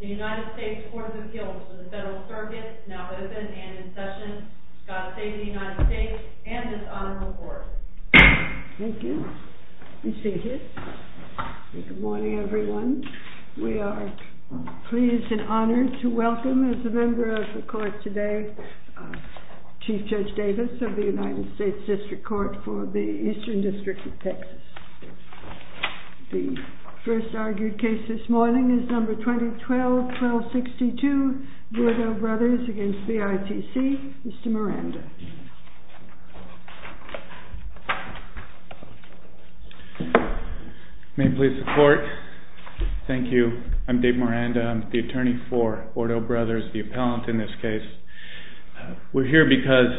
THE UNITED STATES COURT OF APPEAL TO THE FEDERAL CIRCUIT IS NOW OPEN AND IN SESSION. GOD SAVE THE UNITED STATES AND THIS HONORABLE COURT. Thank you. Good morning everyone. We are pleased and honored to welcome as a member of the court today Chief Judge Davis of the United States District Court for the Eastern District of Texas. The first argued case this morning is number 2012-1262 BOURDEAU BROS v. ITC. Mr. Miranda. May it please the court. Thank you. I'm Dave Miranda. I'm the attorney for BOURDEAU BROS, the appellant in this case. We're here because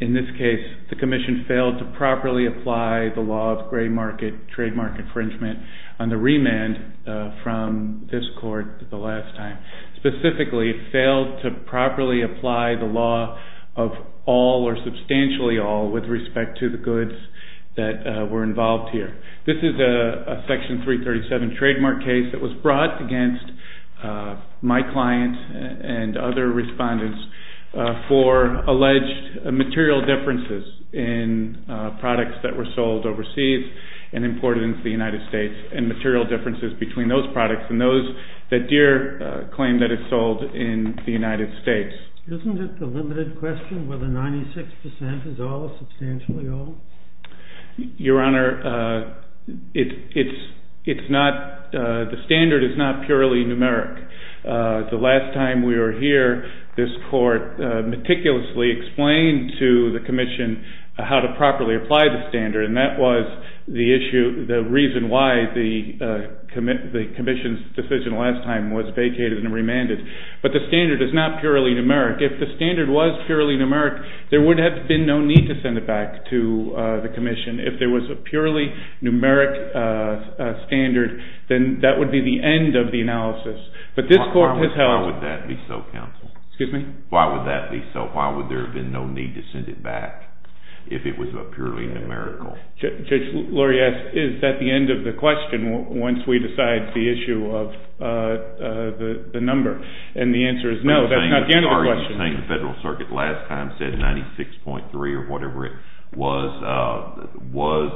in this case the commission failed to properly apply the law of trademark infringement on the remand from this court the last time. Specifically, it failed to properly apply the law of all or substantially all with respect to the goods that were involved here. This is a section 337 trademark case that was brought against my client and other respondents for alleged material differences in products that were sold overseas and imported into the United States and material differences between those products and those that Deere claimed that it sold in the United States. Isn't it the limited question whether 96% is all or substantially all? Your Honor, the standard is not purely numeric. The last time we were here, this court meticulously explained to the commission how to properly apply the standard and that was the reason why the commission's decision last time was vacated and remanded. But the standard is not purely numeric. If the standard was purely numeric, there would have been no need to send it back to the commission. If there was a purely numeric standard, then that would be the end of the analysis. But this court has held... Why would that be so, counsel? Excuse me? Why would that be so? Why would there have been no need to send it back if it was purely numerical? Judge Lurie asks, is that the end of the question once we decide the issue of the number? And the answer is no, that's not the end of the question. I understand the Federal Circuit last time said 96.3 or whatever it was, was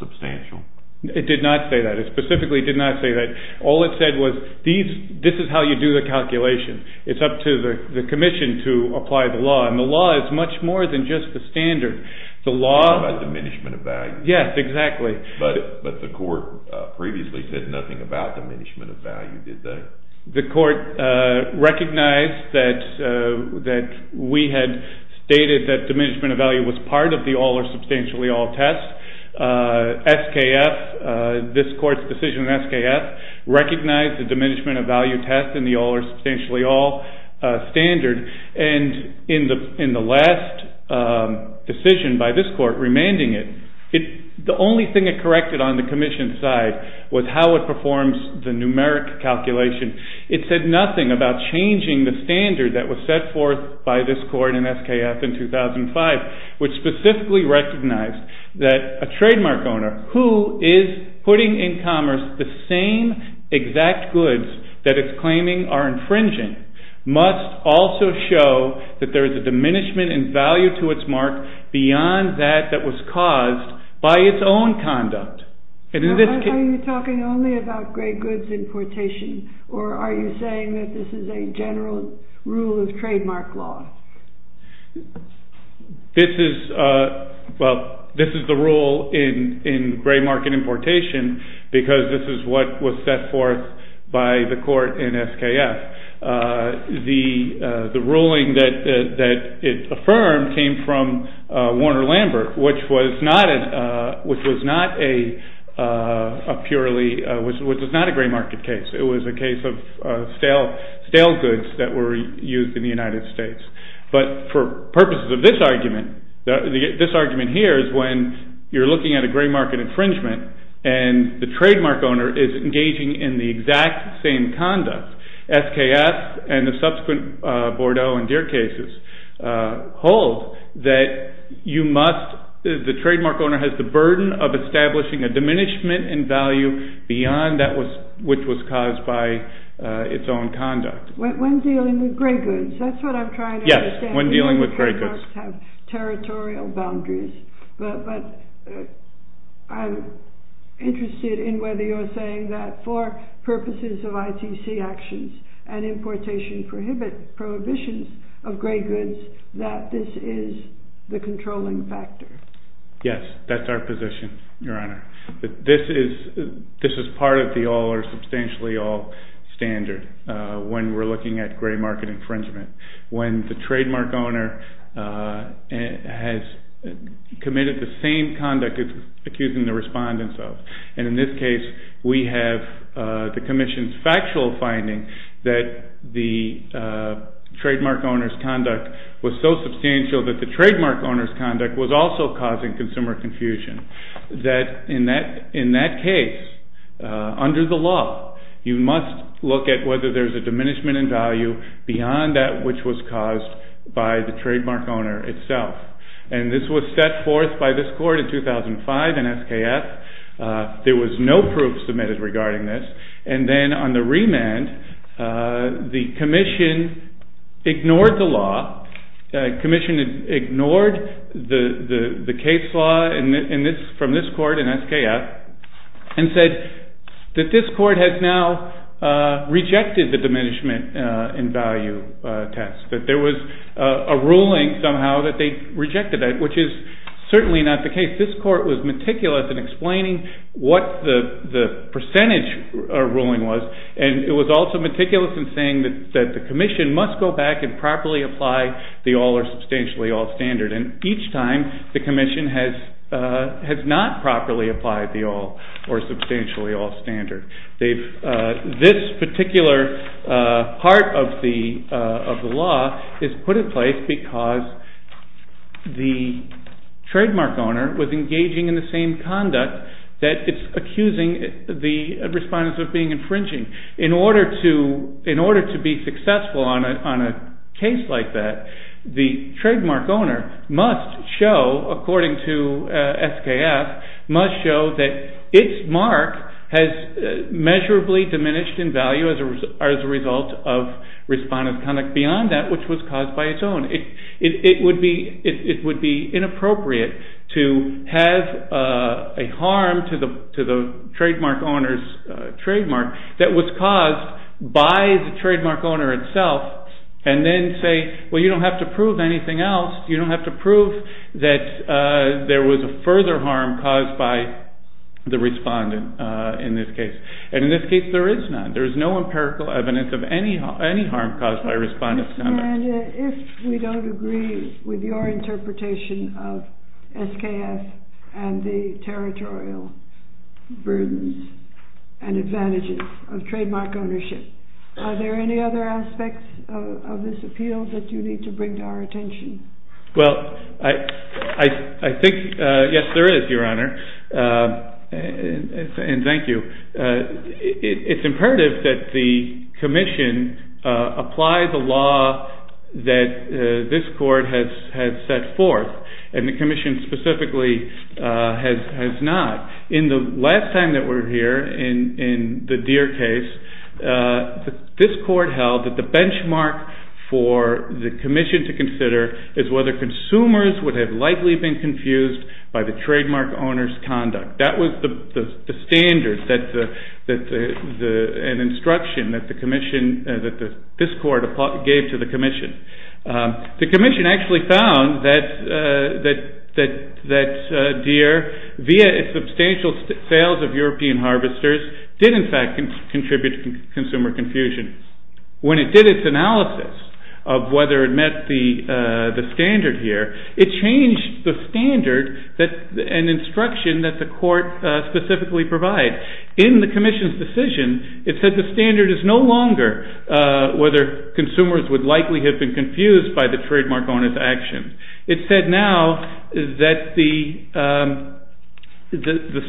substantial. It did not say that. It specifically did not say that. All it said was, this is how you do the calculation. It's up to the commission to apply the law. And the law is much more than just the standard. The law... About diminishment of value. Yes, exactly. But the court previously said nothing about diminishment of value, did they? The court recognized that we had stated that diminishment of value was part of the all-or-substantially-all test. SKF, this court's decision in SKF, recognized the diminishment of value test in the all-or-substantially-all standard. And in the last decision by this court, remanding it, the only thing it corrected on the commission's side was how it performs the numeric calculation. It said nothing about changing the standard that was set forth by this court in SKF in 2005, which specifically recognized that a trademark owner who is putting in commerce the same exact goods that it's claiming are infringing must also show that there is a diminishment in value to its mark beyond that that was caused by its own conduct. Are you talking only about gray goods importation or are you saying that this is a general rule of trademark law? This is the rule in gray market importation because this is what was set forth by the court in SKF. The ruling that it affirmed came from Warner-Lambert, which was not a gray market case. It was a case of stale goods that were used in the United States. But for purposes of this argument, this argument here is when you're looking at a gray market infringement and the trademark owner is engaging in the exact same The trademark owner has the burden of establishing a diminishment in value beyond that which was caused by its own conduct. When dealing with gray goods, that's what I'm trying to understand. Yes, when dealing with gray goods. When trademarks have territorial boundaries. But I'm interested in whether you're saying that for purposes of ITC actions and importation prohibitions of gray goods that this is the controlling factor. Yes, that's our position, Your Honor. This is part of the all or substantially all standard when we're looking at gray market infringement. When the trademark owner has committed the same conduct it's accusing the respondents of. And in this case, we have the commission's factual finding that the trademark owner's conduct was so substantial that the trademark owner's conduct was also causing consumer confusion. That in that case, under the law, you must look at whether there's a diminishment in value beyond that which was caused by the trademark owner itself. And this was set forth by this court in 2005 in SKF. There was no proof submitted regarding this. And then on the remand, the commission ignored the law. The commission ignored the case law from this court in SKF and said that this court has now rejected the diminishment in value test. That there was a ruling somehow that they rejected it, which is certainly not the case. This court was meticulous in explaining what the percentage ruling was, and it was also meticulous in saying that the commission must go back and properly apply the all or substantially all standard. And each time, the commission has not properly applied the all or substantially all standard. This particular part of the law is put in place because the trademark owner was engaging in the same conduct that it's accusing the respondents of being infringing. In order to be successful on a case like that, the trademark owner must show, according to SKF, must show that its mark has measurably diminished in value as a result of respondent conduct beyond that which was caused by its own. It would be inappropriate to have a harm to the trademark owner's trademark that was caused by the trademark owner itself and then say, well, you don't have to prove anything else. You don't have to prove that there was a further harm caused by the respondent in this case. And in this case, there is none. There is no empirical evidence of any harm caused by respondent conduct. And if we don't agree with your interpretation of SKF and the territorial burdens and advantages of trademark ownership, are there any other aspects of this appeal that you need to bring to our attention? Well, I think, yes, there is, Your Honor. And thank you. It's imperative that the commission apply the law that this court has set forth. And the commission specifically has not. In the last time that we were here, in the Deere case, this court held that the benchmark for the commission to consider is whether consumers would have likely been confused by the trademark owner's conduct. That was the standard, an instruction that the commission, that this court gave to the commission. The commission actually found that Deere, via substantial sales of European harvesters, did, in fact, contribute to consumer confusion. When it did its analysis of whether it met the standard here, it changed the standard, an instruction that the court specifically provides. In the commission's decision, it said the standard is no longer whether consumers would likely have been confused by the trademark owner's action. It said now that the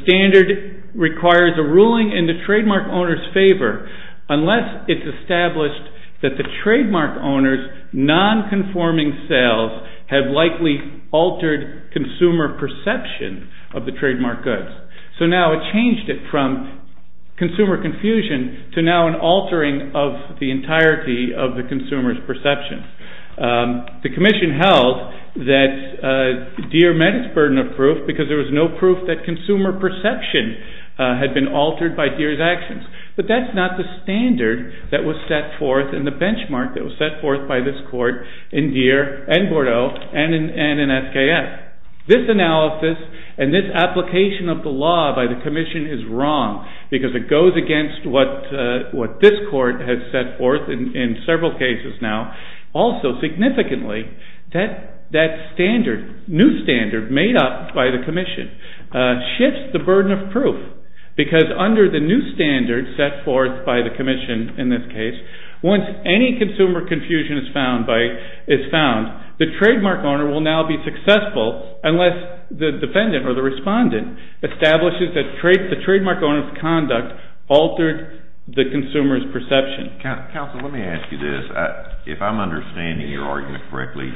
standard requires a ruling in the trademark owner's favor unless it's established that the trademark owner's non-conforming sales have likely altered consumer perception of the trademark goods. So now it changed it from consumer confusion to now an altering of the entirety of the consumer's perception. The commission held that Deere met its burden of proof because there was no standard that was set forth in the benchmark that was set forth by this court in Deere and Bordeaux and in SKF. This analysis and this application of the law by the commission is wrong because it goes against what this court has set forth in several cases now. Also, significantly, that new standard made up by the commission shifts the new standard set forth by the commission in this case. Once any consumer confusion is found, the trademark owner will now be successful unless the defendant or the respondent establishes that the trademark owner's conduct altered the consumer's perception. Counsel, let me ask you this. If I'm understanding your argument correctly,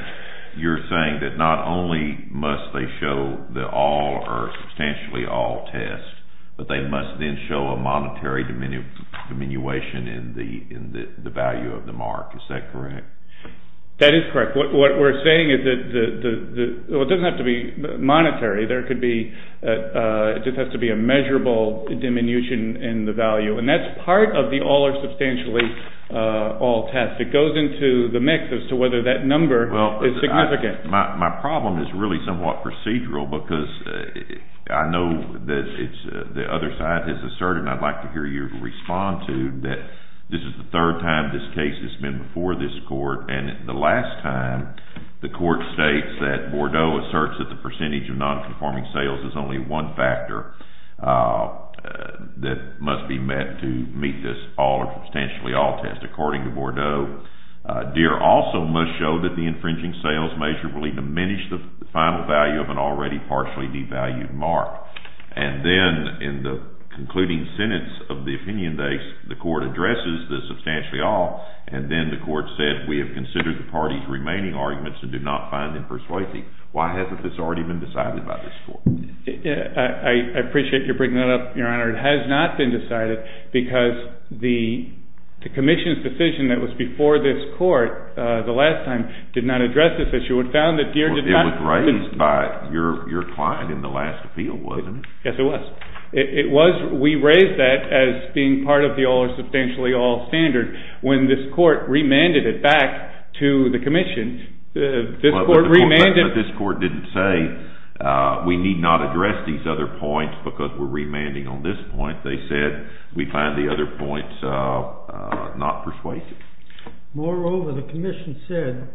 you're saying that not only must they show the all or substantially all test, but they must then show a monetary diminution in the value of the mark. Is that correct? That is correct. What we're saying is that it doesn't have to be monetary. It just has to be a measurable diminution in the value. And that's part of the all or substantially all test. It goes into the mix as to whether that number is significant. My problem is really somewhat procedural because I know that the other side has asserted, and I'd like to hear you respond to, that this is the third time this case has been before this court. And the last time, the court states that Bordeaux asserts that the percentage of nonconforming sales is only one factor that must be met to meet this all or substantially all test. According to Bordeaux, Deere also must show that the infringing sales measure will even diminish the final value of an already partially devalued mark. And then in the concluding sentence of the opinion base, the court addresses the substantially all, and then the court said we have considered the party's remaining arguments and do not find them persuasive. Why hasn't this already been decided by this court? I appreciate your bringing that up, Your Honor. It has not been decided because the commission's decision that was before this court the last time did not address this issue. It was raised by your client in the last appeal, wasn't it? Yes, it was. We raised that as being part of the all or substantially all standard. When this court remanded it back to the commission, this court remanded it. But this court didn't say we need not address these other points because we're remanding on this point. They said we find the other points not persuasive. Moreover, the commission said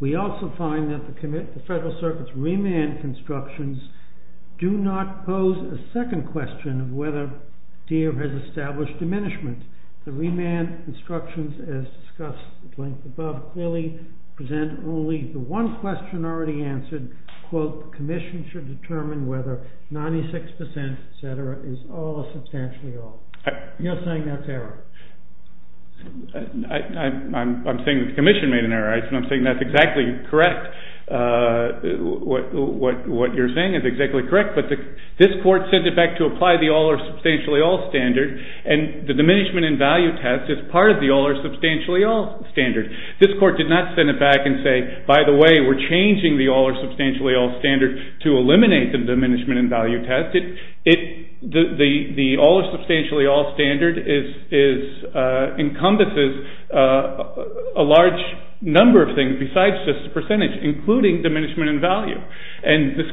we also find that the Federal Circuit's remand constructions do not pose a second question of whether Deere has established diminishment. The remand instructions as discussed at length above clearly present only the one question already answered, quote, commission should determine whether 96%, et cetera, is all or substantially all. You're saying that's error. I'm saying the commission made an error. I'm saying that's exactly correct. What you're saying is exactly correct. But this court sent it back to apply the all or substantially all standard, and the diminishment in value test is part of the all or substantially all standard. This court did not send it back and say, by the way, we're changing the all or substantially all standard to eliminate the diminishment in value test. The all or substantially all standard encompasses a large number of things besides this percentage, including diminishment in value. And the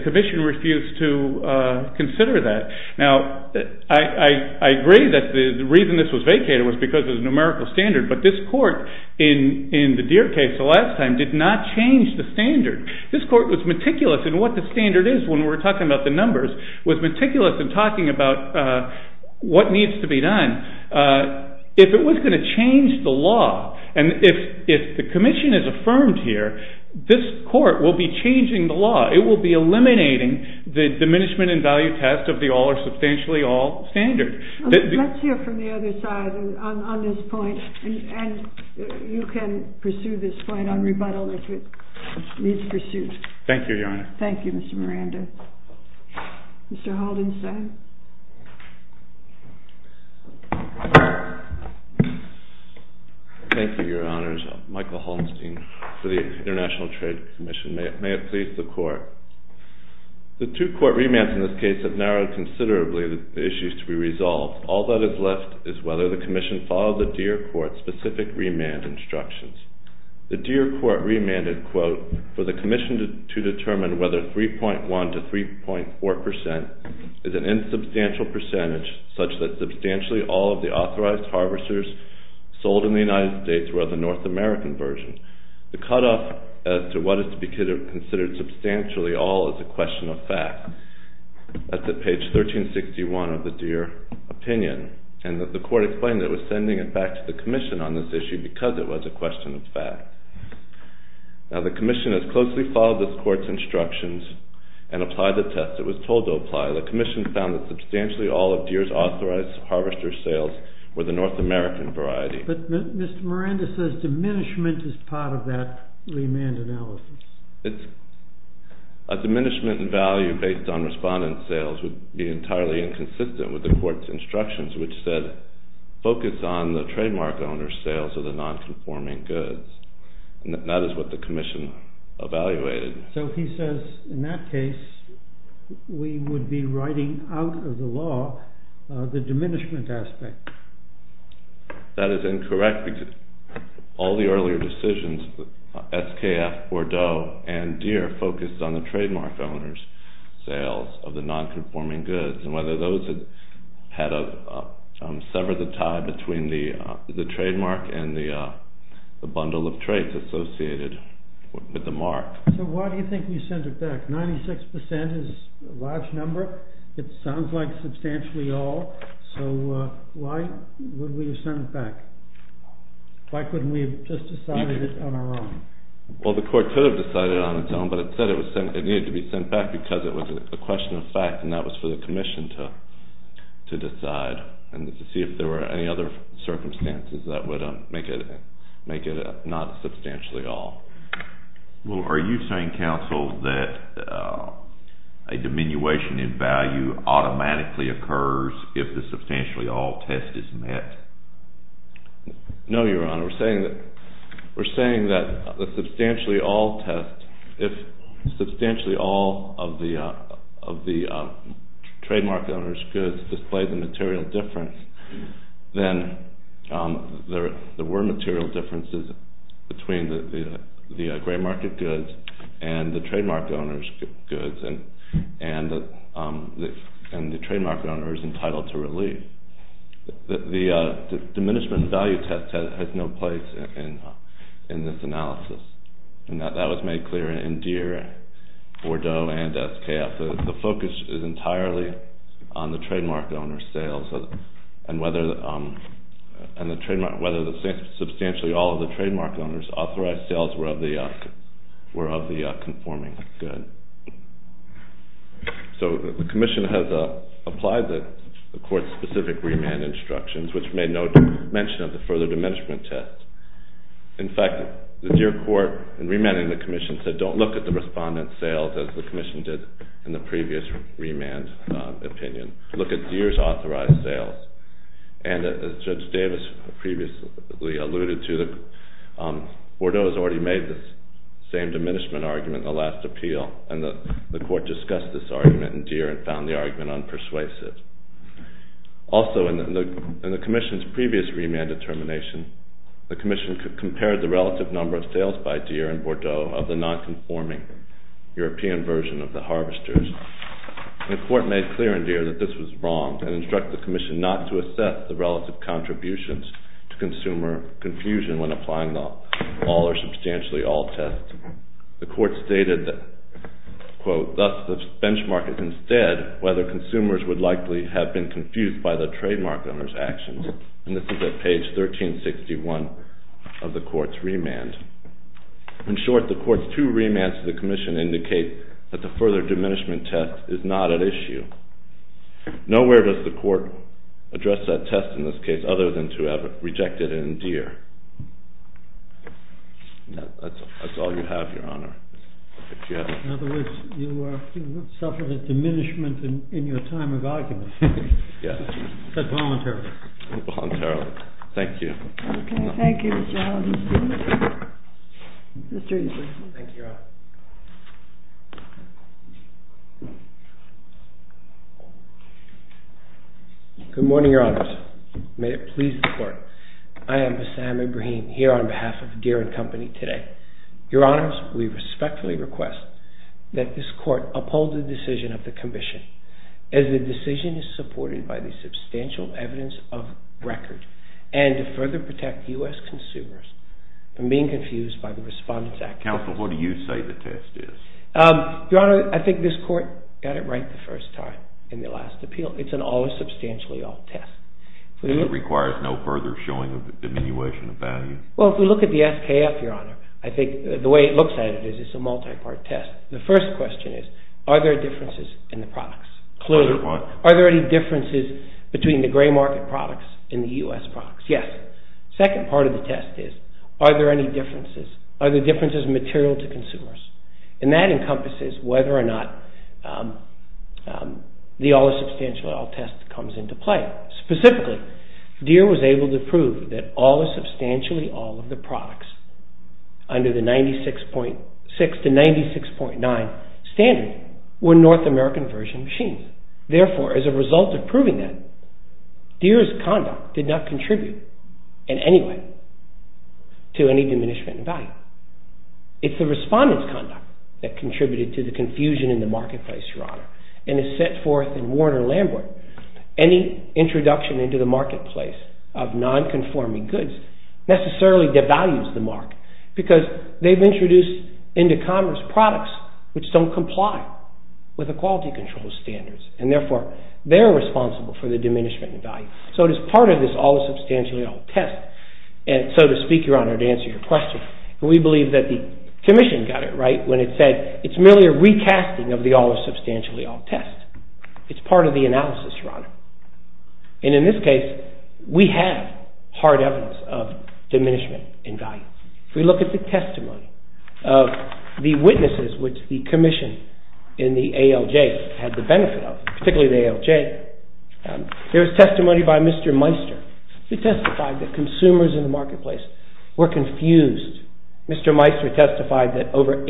commission refused to consider that. Now, I agree that the reason this was vacated was because of the numerical standard, but this court in the Deere case the last time did not change the standard. This court was meticulous in what the standard is when we're talking about the numbers, was meticulous in talking about what needs to be done. If it was going to change the law and if the commission is affirmed here, this court will be changing the law. It will be eliminating the diminishment in value test of the all or substantially all standard. Let's hear from the other side on this point, and you can pursue this point on rebuttal if it needs pursuit. Thank you, Your Honor. Thank you, Mr. Miranda. Mr. Haldenstein. Thank you, Your Honors. Michael Haldenstein for the International Trade Commission. May it please the Court. The two court remands in this case have narrowed considerably the issues to be resolved. All that is left is whether the commission followed the Deere court specific remand instructions. The Deere court remanded, quote, for the commission to determine whether 3.1 to 3.4 percent is an insubstantial percentage such that substantially all of the authorized harvesters sold in the United States were of the North American version. The cutoff as to what is to be considered substantially all is a question of fact. That's at page 1361 of the Deere opinion, and the court explained that it was sending it back to the commission on this issue because it was a question of fact. Now, the commission has closely followed this court's instructions and applied the test. It was told to apply. The commission found that substantially all of Deere's authorized harvester sales were the North American variety. But Mr. Miranda says diminishment is part of that remand analysis. A diminishment in value based on respondent sales would be entirely inconsistent with the court's instructions, which said focus on the non-conforming goods. And that is what the commission evaluated. So he says in that case we would be writing out of the law the diminishment aspect. That is incorrect because all the earlier decisions, SKF, Bordeaux, and Deere focused on the trademark owners' sales of the non-conforming goods and whether those had severed the tie between the trademark and the bundle of trades associated with the mark. So why do you think we sent it back? Ninety-six percent is a large number. It sounds like substantially all. So why would we have sent it back? Why couldn't we have just decided it on our own? Well, the court could have decided it on its own, but it said it needed to be sent back because it was a question of fact, and that was for the commission to decide and to see if there were any other circumstances that would make it not substantially all. Well, are you saying, counsel, that a diminution in value automatically occurs if the substantially all test is met? No, Your Honor. We're saying that the substantially all test, if substantially all of the trademark owners' goods display the material difference, then there were material differences between the gray market goods and the trademark owners' goods, and the trademark owner is entitled to relief. The diminishment in value test has no place in this analysis, and that was made clear in Deere, Bordeaux, and SKF. The focus is entirely on the trademark owner's sales and whether substantially all of the trademark owners' authorized sales were of the conforming good. So the commission has applied the court's specific remand instructions, which made no mention of the further diminishment test. In fact, the Deere court, in remanding the commission, said don't look at the previous remand opinion. Look at Deere's authorized sales. And as Judge Davis previously alluded to, Bordeaux has already made this same diminishment argument in the last appeal, and the court discussed this argument in Deere and found the argument unpersuasive. Also, in the commission's previous remand determination, the commission compared the relative number of sales by Deere and Bordeaux of the non-conforming European version of the harvesters. The court made clear in Deere that this was wrong and instructed the commission not to assess the relative contributions to consumer confusion when applying the all or substantially all test. The court stated that, quote, thus the benchmark is instead whether consumers would likely have been confused by the trademark owner's actions. And this is at page 1361 of the court's remand. In short, the court's two remands to the commission indicate that the further diminishment test is not at issue. Nowhere does the court address that test in this case other than to have rejected it in Deere. That's all you have, Your Honor. In other words, you suffered a diminishment in your time of argument. Yes. Voluntarily. Voluntarily. Thank you. Okay. Thank you, Mr. Allen. Mr. Eason. Thank you, Your Honor. Good morning, Your Honors. May it please the court. I am Bassam Ibrahim here on behalf of Deere and Company today. Your Honors, we respectfully request that this court uphold the decision of the commission as the decision is supported by the substantial evidence of record and to further protect U.S. consumers from being confused by the respondents' actions. Counsel, what do you say the test is? Your Honor, I think this court got it right the first time in the last appeal. It's an all or substantially all test. It requires no further showing of diminution of value? Well, if we look at the SKF, Your Honor, I think the way it looks at it is it's a multi-part test. The first question is, are there differences in the products? Clearly. Are there any differences between the gray market products in the U.S. products? Yes. Second part of the test is, are there any differences? Are the differences material to consumers? And that encompasses whether or not the all or substantially all test comes into play. Specifically, Deere was able to prove that all or substantially all of the products under the 96.6 to 96.9 standard were North American version machines. Therefore, as a result of proving that, Deere's conduct did not contribute in any way to any diminishment in value. It's the respondent's conduct that contributed to the confusion in the marketplace, Your Honor. And as set forth in Warner-Lambert, any introduction into the marketplace of non-conforming goods necessarily devalues the market because they've introduced into commerce products which don't comply with the quality control standards. And therefore, they're responsible for the diminishment in value. So it is part of this all or substantially all test. And so to speak, Your Honor, to answer your question, we believe that the Commission got it right when it said it's merely a recasting of the all or substantially all test. It's part of the analysis, Your Honor. And in this case, we have hard evidence of diminishment in value. If we look at the testimony of the witnesses which the Commission in the ALJ had the benefit of, particularly the ALJ, there was testimony by Mr. Meister who testified that consumers in the marketplace were confused. Mr. Meister testified that over 80%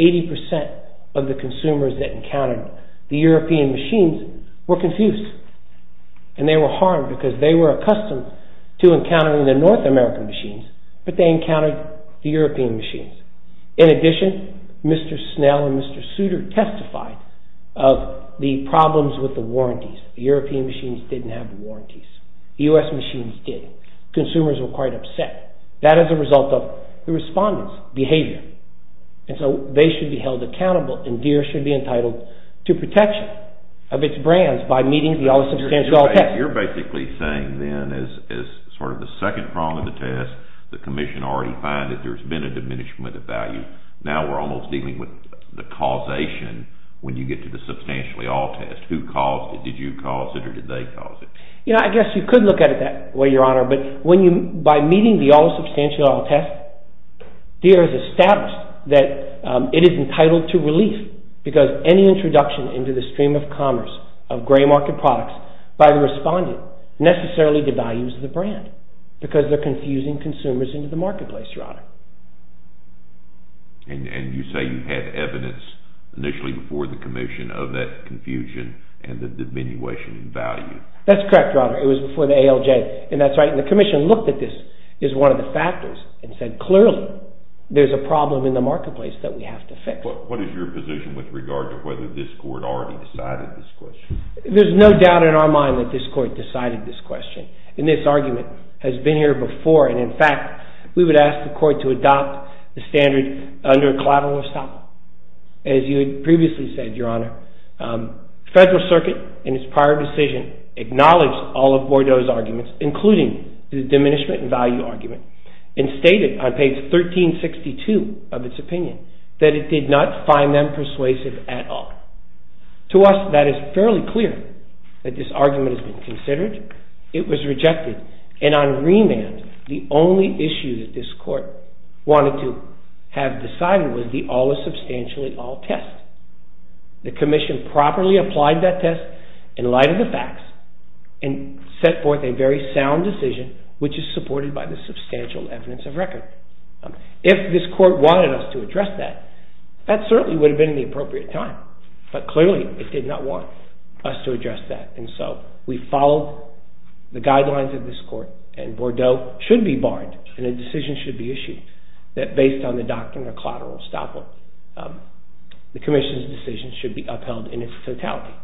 of the consumers that encountered the European machines were confused. And they were harmed because they were accustomed to encountering the North American machines, but they encountered the European machines. In addition, Mr. Snell and Mr. Souter testified of the problems with the warranties. The European machines didn't have warranties. The U.S. machines did. Consumers were quite upset. That is a result of the respondents' behavior. And so they should be held accountable and Deere should be entitled to protection of its brands by meeting the all or substantially all test. You're basically saying then as sort of the second problem of the test, the value, now we're almost dealing with the causation when you get to the substantially all test. Who caused it? Did you cause it or did they cause it? I guess you could look at it that way, Your Honor, but by meeting the all or substantially all test, Deere has established that it is entitled to relief because any introduction into the stream of commerce of gray market products by the respondent necessarily devalues the brand because they're And you say you had evidence initially before the commission of that confusion and the diminution in value. That's correct, Your Honor. It was before the ALJ. And that's right. And the commission looked at this as one of the factors and said clearly there's a problem in the marketplace that we have to fix. What is your position with regard to whether this court already decided this question? There's no doubt in our mind that this court decided this question. And this argument has been here before. And in fact, we would ask the court to adopt the standard under a collateral of stop. As you had previously said, Your Honor, the Federal Circuit in its prior decision acknowledged all of Bordeaux's arguments, including the diminishment in value argument, and stated on page 1362 of its opinion that it did not find them persuasive at all. To us, that is fairly clear that this argument has been considered. It was rejected. And on remand, the only issue that this court wanted to have decided was the all is substantially all test. The commission properly applied that test in light of the facts and set forth a very sound decision, which is supported by the substantial evidence of record. If this court wanted us to address that, that certainly would have been in the appropriate time. But clearly, it did not want us to address that. And so we followed the guidelines of this court. And Bordeaux should be barred. And a decision should be issued that, based on the doctrine of collateral stop, the commission's decision should be upheld in its totality.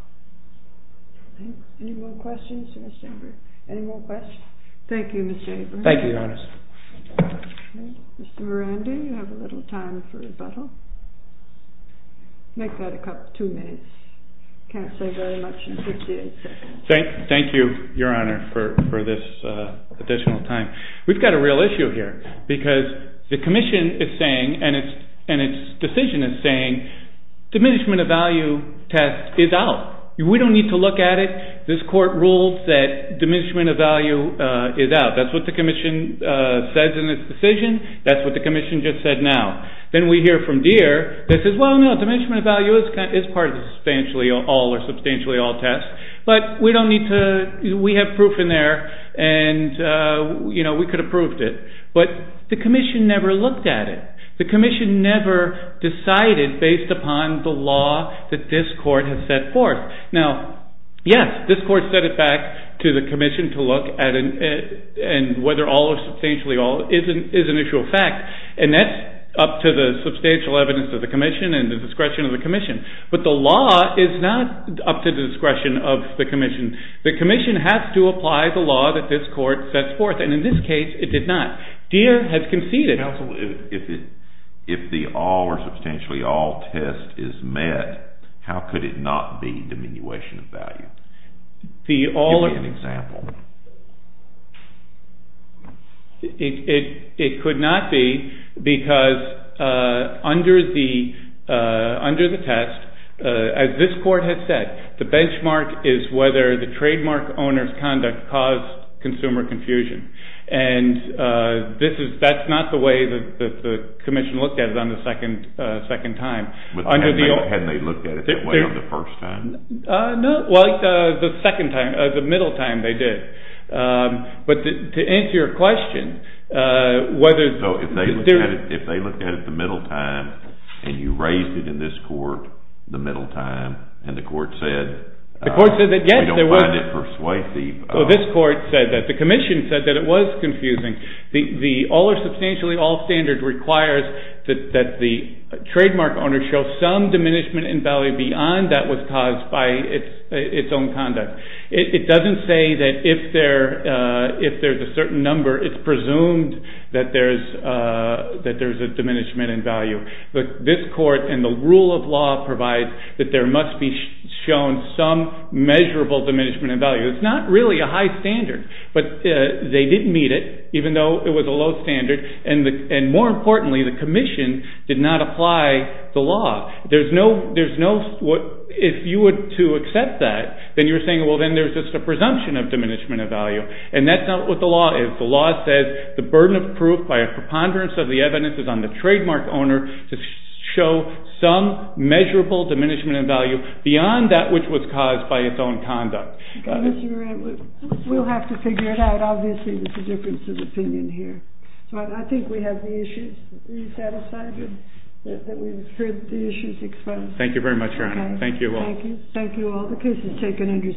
Any more questions for Mr. Abrams? Any more questions? Thank you, Mr. Abrams. Thank you, Your Honor. Mr. Miranda, you have a little time for rebuttal. Make that two minutes. I can't say very much in 58 seconds. Thank you, Your Honor, for this additional time. We've got a real issue here because the commission is saying, and its decision is saying, diminishment of value test is out. We don't need to look at it. This court rules that diminishment of value is out. That's what the commission says in its decision. That's what the commission just said now. Then we hear from Deere that says, well, no, diminishment of value is part of the substantially all or substantially all test. But we don't need to. We have proof in there. And we could have proved it. But the commission never looked at it. The commission never decided based upon the law that this court has set forth. Now, yes, this court set it back to the commission to look at it and whether all or substantially all is an issue of fact. And that's up to the substantial evidence of the commission and the discretion of the commission. But the law is not up to the discretion of the commission. The commission has to apply the law that this court sets forth. And in this case, it did not. Deere has conceded. Counsel, if the all or substantially all test is met, how could it not be diminution of value? Give me an example. It could not be because under the test, as this court has said, the benchmark is whether the trademark owner's conduct caused consumer confusion. And that's not the way that the commission looked at it on the second time. Had they looked at it that way on the first time? No. Well, the second time, the middle time, they did. But to answer your question, whether the Deere – So if they looked at it the middle time and you raised it in this court the middle time and the court said – The court said that, yes, there was – We don't mind it persuasive. Well, this court said that. The commission said that it was confusing. The all or substantially all standard requires that the trademark owner show some diminishment in value beyond that was caused by its own conduct. It doesn't say that if there's a certain number, it's presumed that there's a diminishment in value. But this court and the rule of law provides that there must be shown some measurable diminishment in value. It's not really a high standard, but they didn't meet it, even though it was a low standard. And more importantly, the commission did not apply the law. There's no – if you were to accept that, then you're saying, well, then there's just a presumption of diminishment in value. And that's not what the law is. The law says the burden of proof by a preponderance of the evidence is on the trademark owner to show some measurable diminishment in value beyond that which was caused by its own conduct. We'll have to figure it out. Obviously, there's a difference of opinion here. So I think we have the issues. Are you satisfied that we've heard the issues exposed? Thank you very much, Your Honor. Thank you all. Thank you. Thank you all. The case is taken under submission. Thank you.